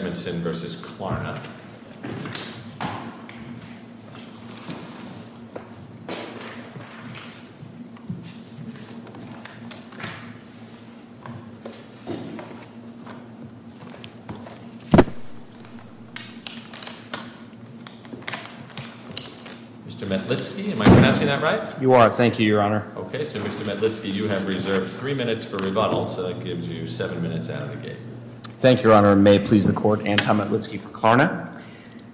Mr. Metlitsky, am I pronouncing that right? You are. Thank you, Your Honor. Okay, so Mr. Metlitsky, you have reserved three minutes for rebuttal, so that gives you seven minutes out of the gate. Thank you, Your Honor. Your Honor, may it please the Court, Anton Metlitsky for Klarna.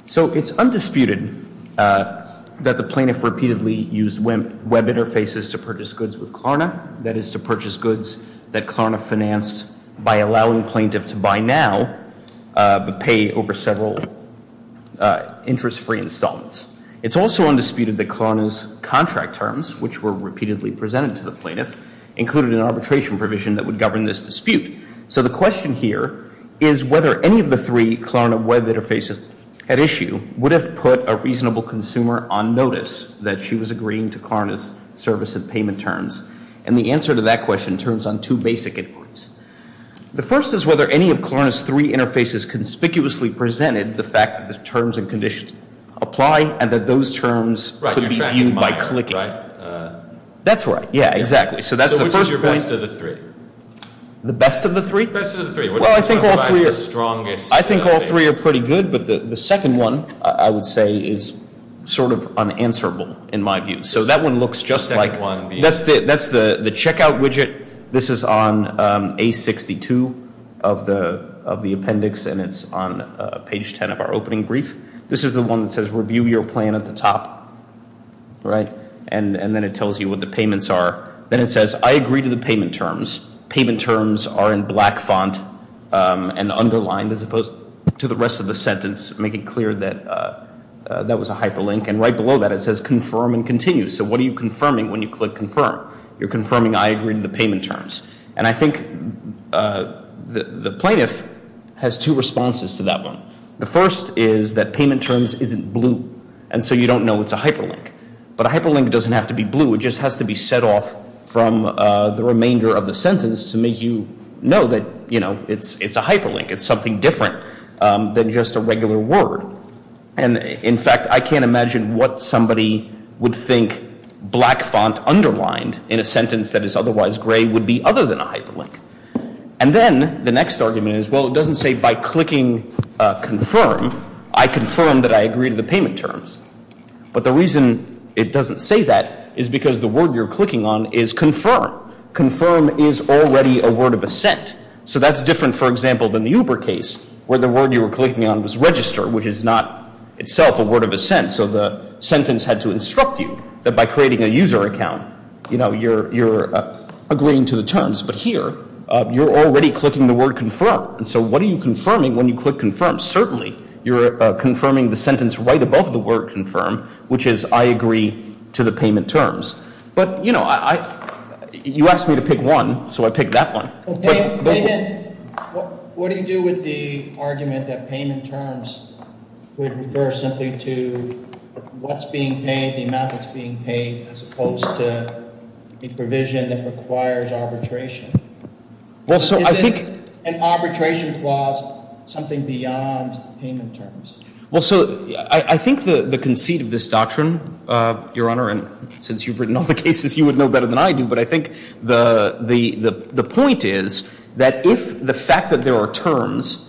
So it's undisputed that the plaintiff repeatedly used web interfaces to purchase goods with Klarna, that is, to purchase goods that Klarna financed by allowing plaintiff to buy now but pay over several interest-free installments. It's also undisputed that Klarna's contract terms, which were repeatedly presented to the plaintiff, included an arbitration provision that would govern this dispute. So the question here is whether any of the three Klarna web interfaces at issue would have put a reasonable consumer on notice that she was agreeing to Klarna's service and payment terms. And the answer to that question turns on two basic inquiries. The first is whether any of Klarna's three interfaces conspicuously presented the fact that the terms and conditions apply and that those terms could be viewed by clicking. That's right. Yeah, exactly. So that's the first point. The best of the three. The best of the three? The best of the three. Well, I think all three are pretty good, but the second one, I would say, is sort of unanswerable in my view. So that one looks just like, that's the checkout widget. This is on A62 of the appendix, and it's on page 10 of our opening brief. This is the one that says review your plan at the top, right? And then it tells you what the payments are. Then it says, I agree to the payment terms. Payment terms are in black font and underlined, as opposed to the rest of the sentence, making clear that that was a hyperlink. And right below that, it says confirm and continue. So what are you confirming when you click confirm? You're confirming I agree to the payment terms. And I think the plaintiff has two responses to that one. The first is that payment terms isn't blue, and so you don't know it's a hyperlink. But a hyperlink doesn't have to be blue. It just has to be set off from the remainder of the sentence to make you know that it's a hyperlink. It's something different than just a regular word. And in fact, I can't imagine what somebody would think black font underlined in a sentence that is otherwise gray would be other than a hyperlink. And then the next argument is, well, it doesn't say by clicking confirm, I confirm that I agree to the payment terms. But the reason it doesn't say that is because the word you're clicking on is confirm. Confirm is already a word of assent. So that's different, for example, than the Uber case, where the word you were clicking on was register, which is not itself a word of assent. So the sentence had to instruct you that by creating a user account, you're agreeing to the terms. But here, you're already clicking the word confirm. And so what are you confirming when you click confirm? Certainly, you're confirming the sentence right above the word confirm, which is I agree to the payment terms. But you know, you asked me to pick one. So I picked that one. Okay. Then what do you do with the argument that payment terms would refer simply to what's being paid, the amount that's being paid, as opposed to a provision that requires arbitration? Is an arbitration clause something beyond payment terms? Well, so I think the conceit of this doctrine, Your Honor, and since you've written all the cases, you would know better than I do, but I think the point is that if the fact that there are terms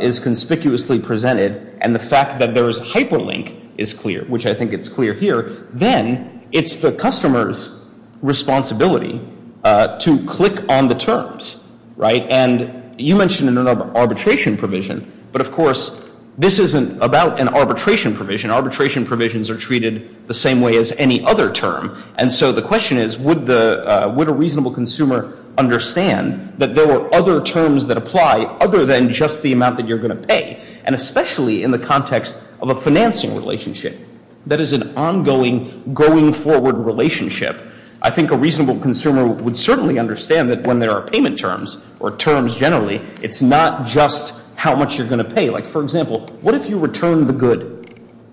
is conspicuously presented, and the fact that there is hyperlink is clear, which I think it's clear here, then it's the customer's responsibility to click on the terms. Right? And you mentioned an arbitration provision. But of course, this isn't about an arbitration provision. Arbitration provisions are treated the same way as any other term. And so the question is, would a reasonable consumer understand that there were other terms that apply other than just the amount that you're going to pay? And especially in the context of a financing relationship that is an ongoing, going forward relationship, I think a reasonable consumer would certainly understand that when there are payment terms, or terms generally, it's not just how much you're going to pay. Like, for example, what if you return the good,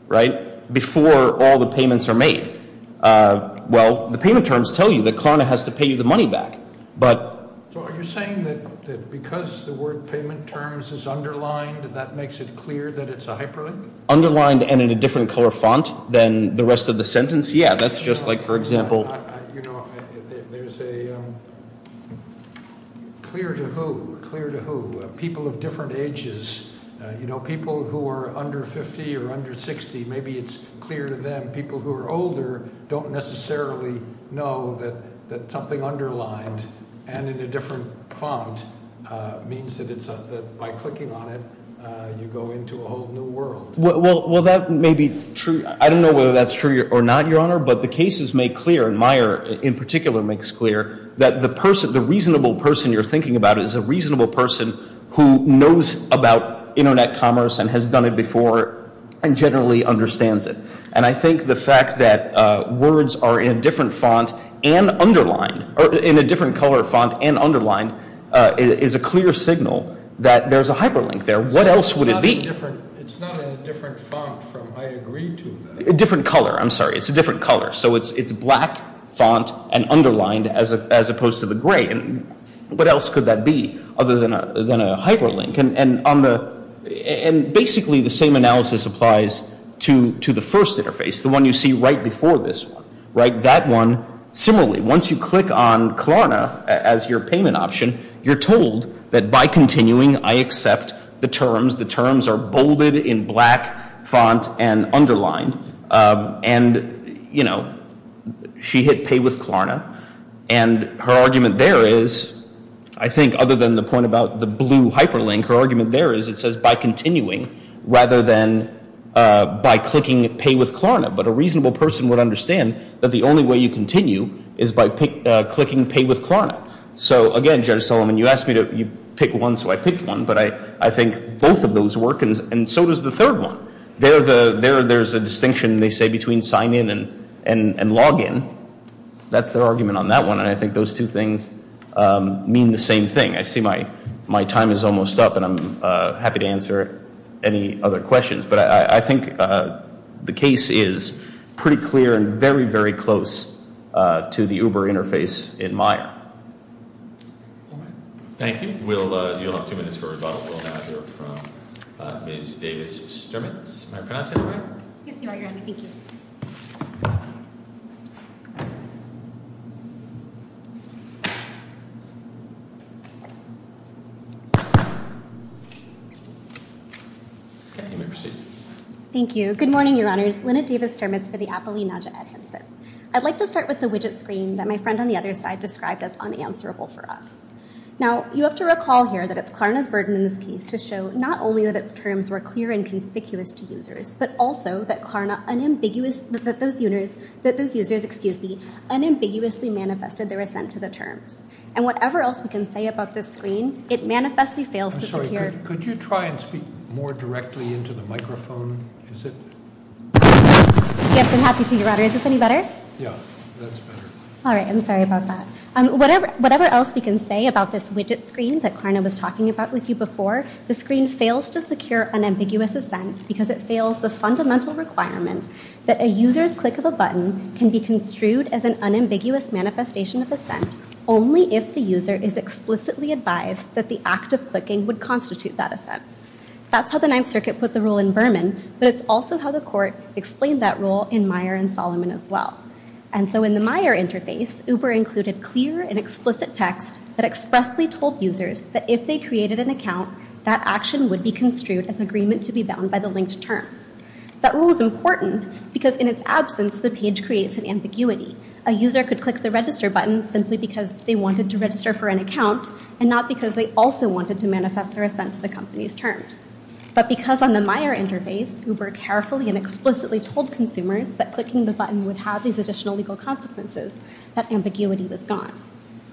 right, before all the payments are made? Well, the payment terms tell you that CARNA has to pay you the money back. But- So are you saying that because the word payment terms is underlined, that makes it clear that it's a hyperlink? Underlined and in a different color font than the rest of the sentence? Yeah, that's just like, for example- You know, there's a clear to who, clear to who? People of different ages, you know, people who are under 50 or under 60, maybe it's clear to them. People who are older don't necessarily know that something underlined and in a different font means that by clicking on it, you go into a whole new world. Well, that may be true. I don't know whether that's true or not, Your Honor, but the cases make clear, and Meyer in particular makes clear, that the reasonable person you're thinking about is a reasonable person who knows about Internet commerce and has done it before and generally understands it. And I think the fact that words are in a different font and underlined, or in a different color font and underlined, is a clear signal that there's a hyperlink there. What else would it be? It's not in a different font from, I agree to that. A different color, I'm sorry, it's a different color. So it's black font and underlined as opposed to the gray. And what else could that be other than a hyperlink? And basically the same analysis applies to the first interface, the one you see right before this one, right? That one, similarly, once you click on Klarna as your payment option, you're told that by continuing, I accept the terms. The terms are bolded in black font and underlined. And she hit pay with Klarna. And her argument there is, I think other than the point about the blue hyperlink, her argument there is it says by continuing rather than by clicking pay with Klarna. But a reasonable person would understand that the only way you continue is by clicking pay with Klarna. So again, Judge Solomon, you asked me to pick one, so I picked one. But I think both of those work, and so does the third one. There's a distinction, they say, between sign in and log in. That's their argument on that one, and I think those two things mean the same thing. I see my time is almost up, and I'm happy to answer any other questions. But I think the case is pretty clear and very, very close to the Uber interface in Maya. Thank you. You'll have two minutes for rebuttal. We'll now hear from Ms. Davis-Stermitz. May I pronounce it? Yes, Your Honor. Thank you. Okay, you may proceed. Thank you. Good morning, Your Honors. Lynette Davis-Stermitz for the Appellee Nadja Edhenson. I'd like to start with the widget screen that my friend on the other side described as unanswerable for us. Now, you have to recall here that it's Klarna's burden in this case to show not only that its terms were clear and also that Klarna unambiguous, that those users, excuse me, unambiguously manifested their assent to the terms. And whatever else we can say about this screen, it manifestly fails to secure- I'm sorry, could you try and speak more directly into the microphone? Is it? Yes, I'm happy to, Your Honor. Is this any better? Yeah, that's better. All right, I'm sorry about that. Whatever else we can say about this widget screen that Klarna was talking about with you before, the screen fails to secure unambiguous assent because it fails the fundamental requirement that a user's click of a button can be construed as an unambiguous manifestation of assent only if the user is explicitly advised that the act of clicking would constitute that assent. That's how the Ninth Circuit put the rule in Berman, but it's also how the court explained that rule in Meyer and Solomon as well. And so in the Meyer interface, Uber included clear and explicit text that expressly told users that if they created an account, that action would be construed as agreement to be bound by the linked terms. That rule is important because in its absence, the page creates an ambiguity. A user could click the register button simply because they wanted to register for an account and not because they also wanted to manifest their assent to the company's terms. But because on the Meyer interface, Uber carefully and explicitly told consumers that clicking the button would have these additional legal consequences, that ambiguity was gone.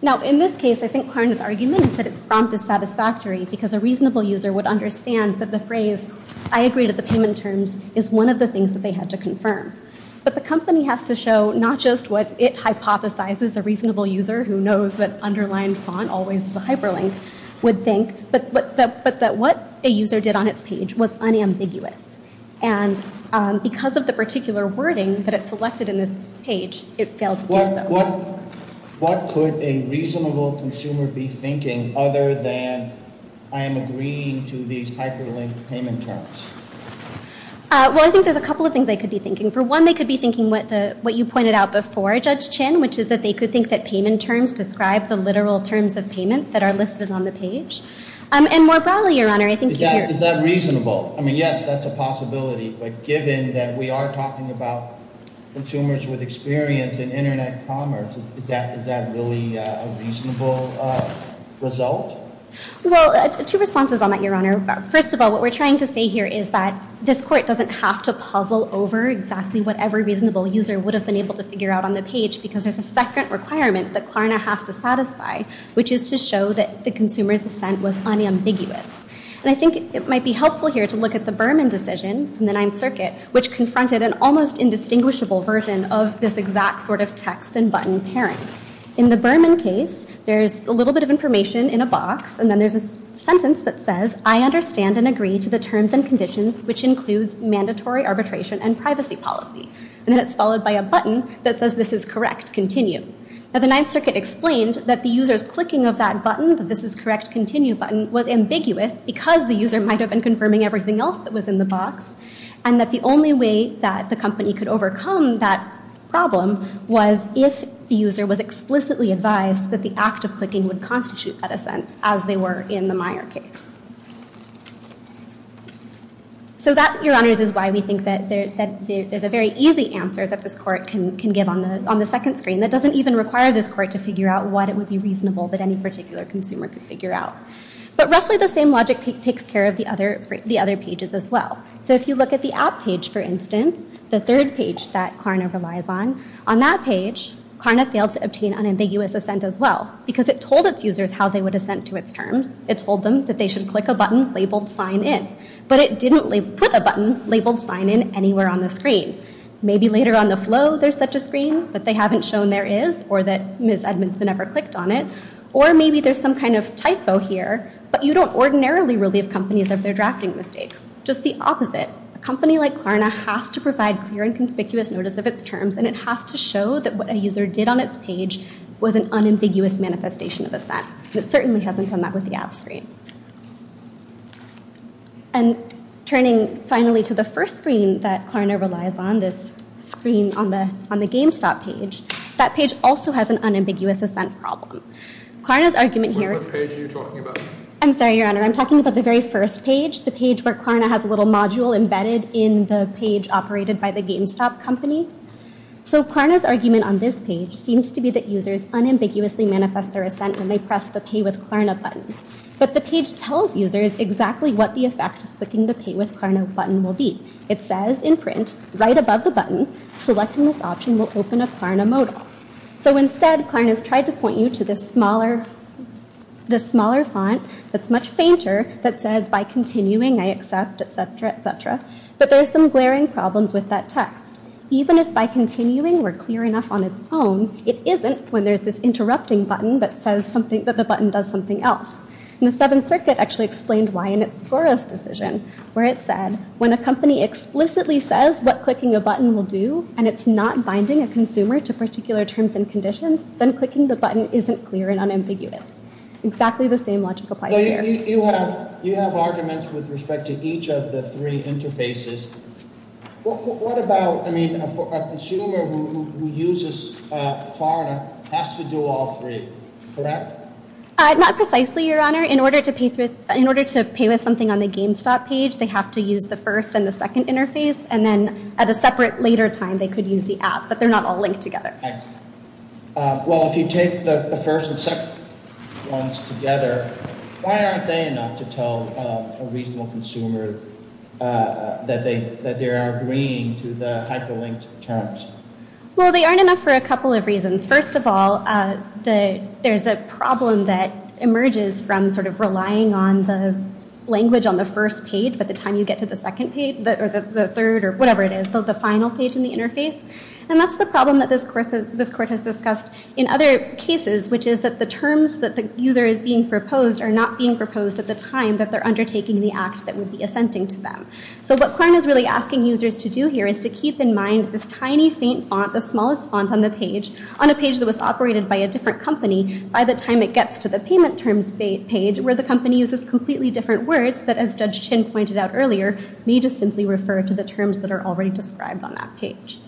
Now in this case, I think Klarna's argument is that its prompt is satisfactory because a reasonable user would understand that the phrase, I agree to the payment terms, is one of the things that they had to confirm. But the company has to show not just what it hypothesizes a reasonable user who knows that underlined font always is a hyperlink would think, but that what a user did on its page was unambiguous. And because of the particular wording that it selected in this page, it failed to do so. What could a reasonable consumer be thinking other than I am agreeing to these hyperlinked payment terms? Well, I think there's a couple of things they could be thinking. For one, they could be thinking what you pointed out before, Judge Chin, which is that they could think that payment terms describe the literal terms of payment that are listed on the page. And more broadly, Your Honor, I think you're- Is that reasonable? I mean, yes, that's a possibility. But given that we are talking about consumers with experience in Internet commerce, is that really a reasonable result? Well, two responses on that, Your Honor. First of all, what we're trying to say here is that this court doesn't have to puzzle over exactly what every reasonable user would have been able to figure out on the page. Because there's a second requirement that Klarna has to satisfy, which is to show that the consumer's assent was unambiguous. And I think it might be helpful here to look at the Berman decision from the Ninth Circuit, which confronted an almost indistinguishable version of this exact sort of text and button pairing. In the Berman case, there's a little bit of information in a box, and then there's a sentence that says, I understand and agree to the terms and conditions, which includes mandatory arbitration and privacy policy. And then it's followed by a button that says, this is correct, continue. Now, the Ninth Circuit explained that the user's clicking of that button, that this is correct, continue button, was ambiguous because the user might have been confirming everything else that was in the box. And that the only way that the company could overcome that problem was if the user was explicitly advised that the act of clicking would constitute that assent, as they were in the Meyer case. So that, your honors, is why we think that there's a very easy answer that this court can give on the second screen that doesn't even require this court to figure out what it would be reasonable that any particular consumer could figure out. But roughly the same logic takes care of the other pages as well. So if you look at the app page, for instance, the third page that Klarna relies on, on that page, Klarna failed to obtain unambiguous assent as well because it told its users how they would assent to its terms. It told them that they should click a button labeled sign in. But it didn't put a button labeled sign in anywhere on the screen. Maybe later on the flow there's such a screen, but they haven't shown there is, or that Ms. Edmondson never clicked on it. Or maybe there's some kind of typo here, but you don't ordinarily relieve companies of their drafting mistakes. Just the opposite. A company like Klarna has to provide clear and conspicuous notice of its terms, and it has to show that what a user did on its page was an unambiguous manifestation of assent. It certainly hasn't done that with the app screen. And turning finally to the first screen that Klarna relies on, this screen on the GameStop page, that page also has an unambiguous assent problem. Klarna's argument here... What page are you talking about? I'm sorry, Your Honor. I'm talking about the very first page, the page where Klarna has a little module embedded in the page operated by the GameStop company. So Klarna's argument on this page seems to be that users unambiguously manifest their assent when they press the Pay with Klarna button. But the page tells users exactly what the effect of clicking the Pay with Klarna button will be. It says in print, right above the button, selecting this option will open a Klarna modal. So instead, Klarna's tried to point you to this smaller font that's much fainter, that says, by continuing I accept, et cetera, et cetera. But there's some glaring problems with that text. Even if by continuing we're clear enough on its own, it isn't when there's this interrupting button that says that the button does something else. And the Seventh Circuit actually explained why in its Scoros decision, where it said, when a company explicitly says what clicking a button will do, and it's not binding a consumer to particular terms and conditions, then clicking the button isn't clear and unambiguous. Exactly the same logic applies here. You have arguments with respect to each of the three interfaces. What about, I mean, a consumer who uses Klarna has to do all three, correct? Not precisely, Your Honor. In order to pay with something on the GameStop page, they have to use the first and the second interface, and then at a separate later time they could use the app. But they're not all linked together. Well, if you take the first and second ones together, why aren't they enough to tell a reasonable consumer that they are agreeing to the hyperlinked terms? Well, they aren't enough for a couple of reasons. First of all, there's a problem that emerges from sort of relying on the language on the first page by the time you get to the second page, or the third, or whatever it is, the final page in the interface. And that's the problem that this Court has discussed in other cases, which is that the terms that the user is being proposed are not being proposed at the time that they're undertaking the act that would be assenting to them. So what Klarna is really asking users to do here is to keep in mind this tiny, faint font, the smallest font on the page, on a page that was operated by a different company by the time it gets to the payment terms page, where the company uses completely different words that, as Judge Chin pointed out earlier, may just simply refer to the terms that are already described on that page.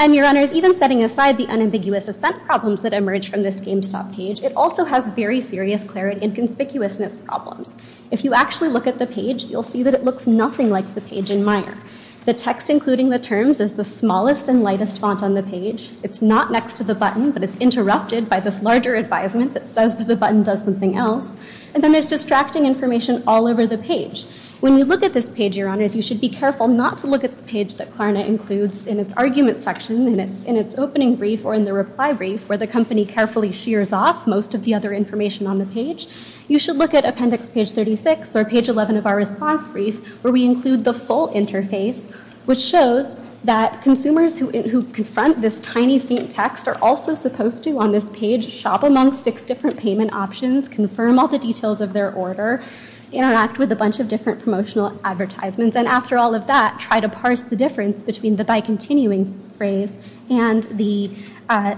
And, Your Honors, even setting aside the unambiguous assent problems that emerge from this GameStop page, it also has very serious clarity and conspicuousness problems. If you actually look at the page, you'll see that it looks nothing like the page in Meijer. The text including the terms is the smallest and lightest font on the page. It's not next to the button, but it's interrupted by this larger advisement that says that the button does something else. And then there's distracting information all over the page. When you look at this page, Your Honors, you should be careful not to look at the page that Klarna includes in its argument section, in its opening brief, or in the reply brief, where the company carefully shears off most of the other information on the page. You should look at appendix page 36, or page 11 of our response brief, where we include the full interface, which shows that consumers who confront this tiny, faint text are also supposed to, on this page, shop among six different payment options, confirm all the details of their order, interact with a bunch of different promotional advertisements, and after all of that, try to parse the difference between the by-continuing phrase and the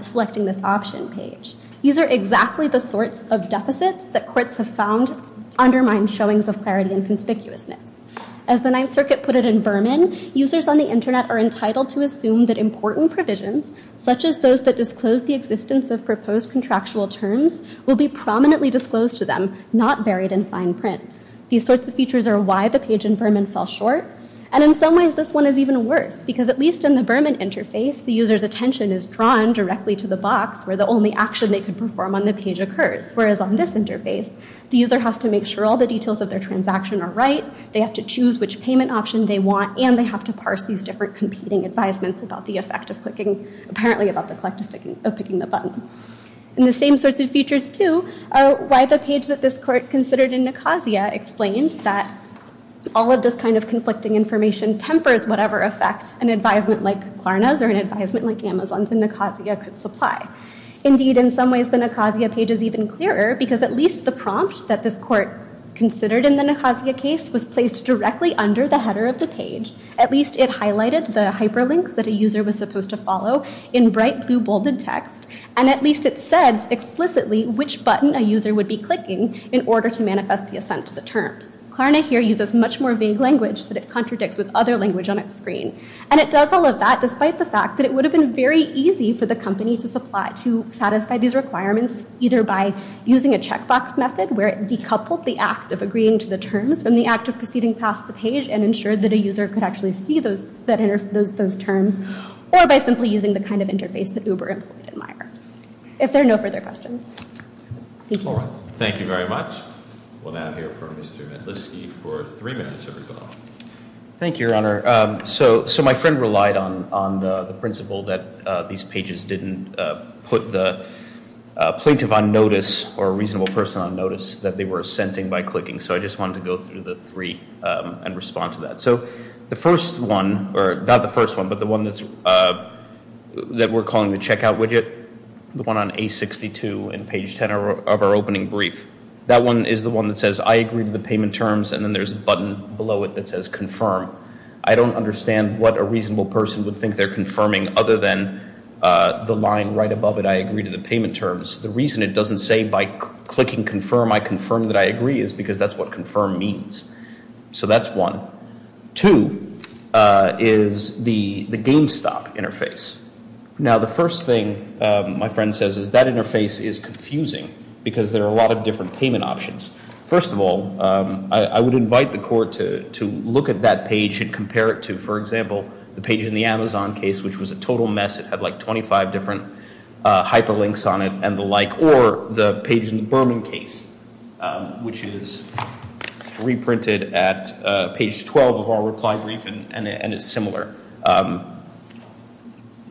selecting this option page. These are exactly the sorts of deficits that courts have found undermine showings of clarity and conspicuousness. As the Ninth Circuit put it in Berman, users on the Internet are entitled to assume that important provisions, such as those that disclose the existence of proposed contractual terms, will be prominently disclosed to them, not buried in fine print. These sorts of features are why the page in Berman fell short, and in some ways, this one is even worse, because at least in the Berman interface, the user's attention is drawn directly to the box where the only action they can perform on the page occurs, whereas on this interface, the user has to make sure all the details of their transaction are right, they have to choose which payment option they want, and they have to parse these different competing advisements about the effect of picking the button. And the same sorts of features, too, are why the page that this court considered in Nicosia explained that all of this kind of conflicting information tempers whatever effect an advisement like Klarna's or an advisement like Amazon's in Nicosia could supply. Indeed, in some ways, the Nicosia page is even clearer, because at least the prompt that this court considered in the Nicosia case was placed directly under the header of the page, at least it highlighted the hyperlinks that a user was supposed to follow in bright blue bolded text, and at least it said explicitly which button a user would be clicking in order to manifest the assent to the terms. Klarna here uses much more vague language that it contradicts with other language on its screen. And it does all of that despite the fact that it would have been very easy for the company to satisfy these requirements, either by using a checkbox method where it decoupled the act of agreeing to the terms from the act of proceeding past the page and ensured that a user could actually see those terms, or by simply using the kind of interface that Uber employees admire. If there are no further questions, thank you. All right, thank you very much. We'll now hear from Mr. Medlitsky for three minutes of his own. Thank you, Your Honor. So my friend relied on the principle that these pages didn't put the plaintiff on notice or a reasonable person on notice that they were assenting by clicking, so I just wanted to go through the three and respond to that. So the first one, or not the first one, but the one that we're calling the checkout widget, the one on A62 and page 10 of our opening brief, that one is the one that says, I agree to the payment terms, and then there's a button below it that says confirm. I don't understand what a reasonable person would think they're confirming other than the line right above it, I agree to the payment terms. The reason it doesn't say by clicking confirm, I confirm that I agree, is because that's what confirm means. So that's one. Two is the GameStop interface. Now the first thing my friend says is that interface is confusing because there are a lot of different payment options. First of all, I would invite the court to look at that page and compare it to, for example, the page in the Amazon case, which was a total mess, it had like 25 different hyperlinks on it and the like, or the page in the Berman case, which is reprinted at page 12 of our reply brief and is similar.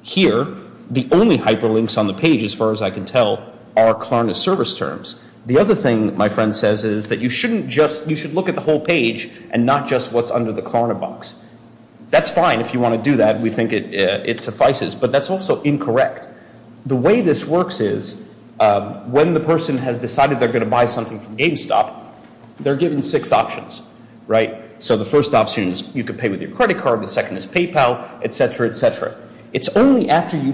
Here, the only hyperlinks on the page, as far as I can tell, are Klarna service terms. The other thing my friend says is that you should look at the whole page and not just what's under the Klarna box. That's fine if you want to do that, we think it suffices, but that's also incorrect. The way this works is when the person has decided they're going to buy something from GameStop, they're given six options. So the first option is you can pay with your credit card, the second is PayPal, et cetera, et cetera. It's only after you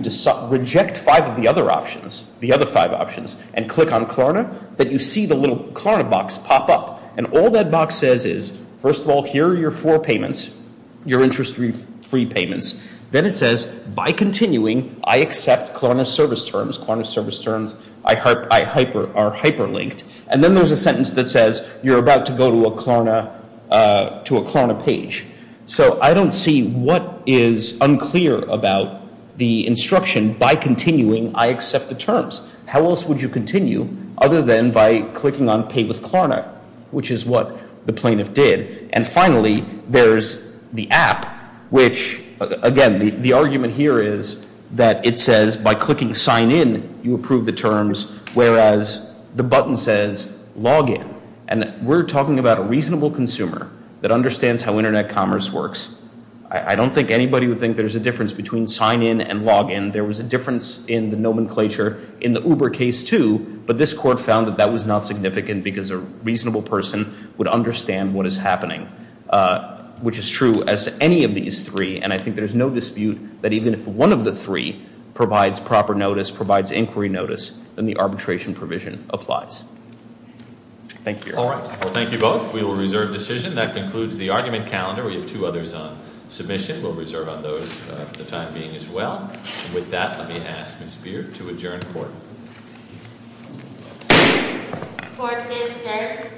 reject five of the other options, the other five options, and click on Klarna that you see the little Klarna box pop up. And all that box says is, first of all, here are your four payments, your interest-free payments. Then it says, by continuing, I accept Klarna service terms. Klarna service terms are hyperlinked. And then there's a sentence that says you're about to go to a Klarna page. So I don't see what is unclear about the instruction, by continuing, I accept the terms. How else would you continue other than by clicking on Pay with Klarna, which is what the plaintiff did. And finally, there's the app, which, again, the argument here is that it says by clicking Sign In, you approve the terms, whereas the button says Log In. And we're talking about a reasonable consumer that understands how Internet commerce works. I don't think anybody would think there's a difference between Sign In and Log In. There was a difference in the nomenclature in the Uber case, too, but this court found that that was not significant because a reasonable person would understand what is happening, which is true as to any of these three. And I think there's no dispute that even if one of the three provides proper notice, provides inquiry notice, then the arbitration provision applies. Thank you. All right. Well, thank you both. We will reserve decision. That concludes the argument calendar. We have two others on submission. We'll reserve on those for the time being as well. With that, let me ask Ms. Beard to adjourn court. Court is adjourned.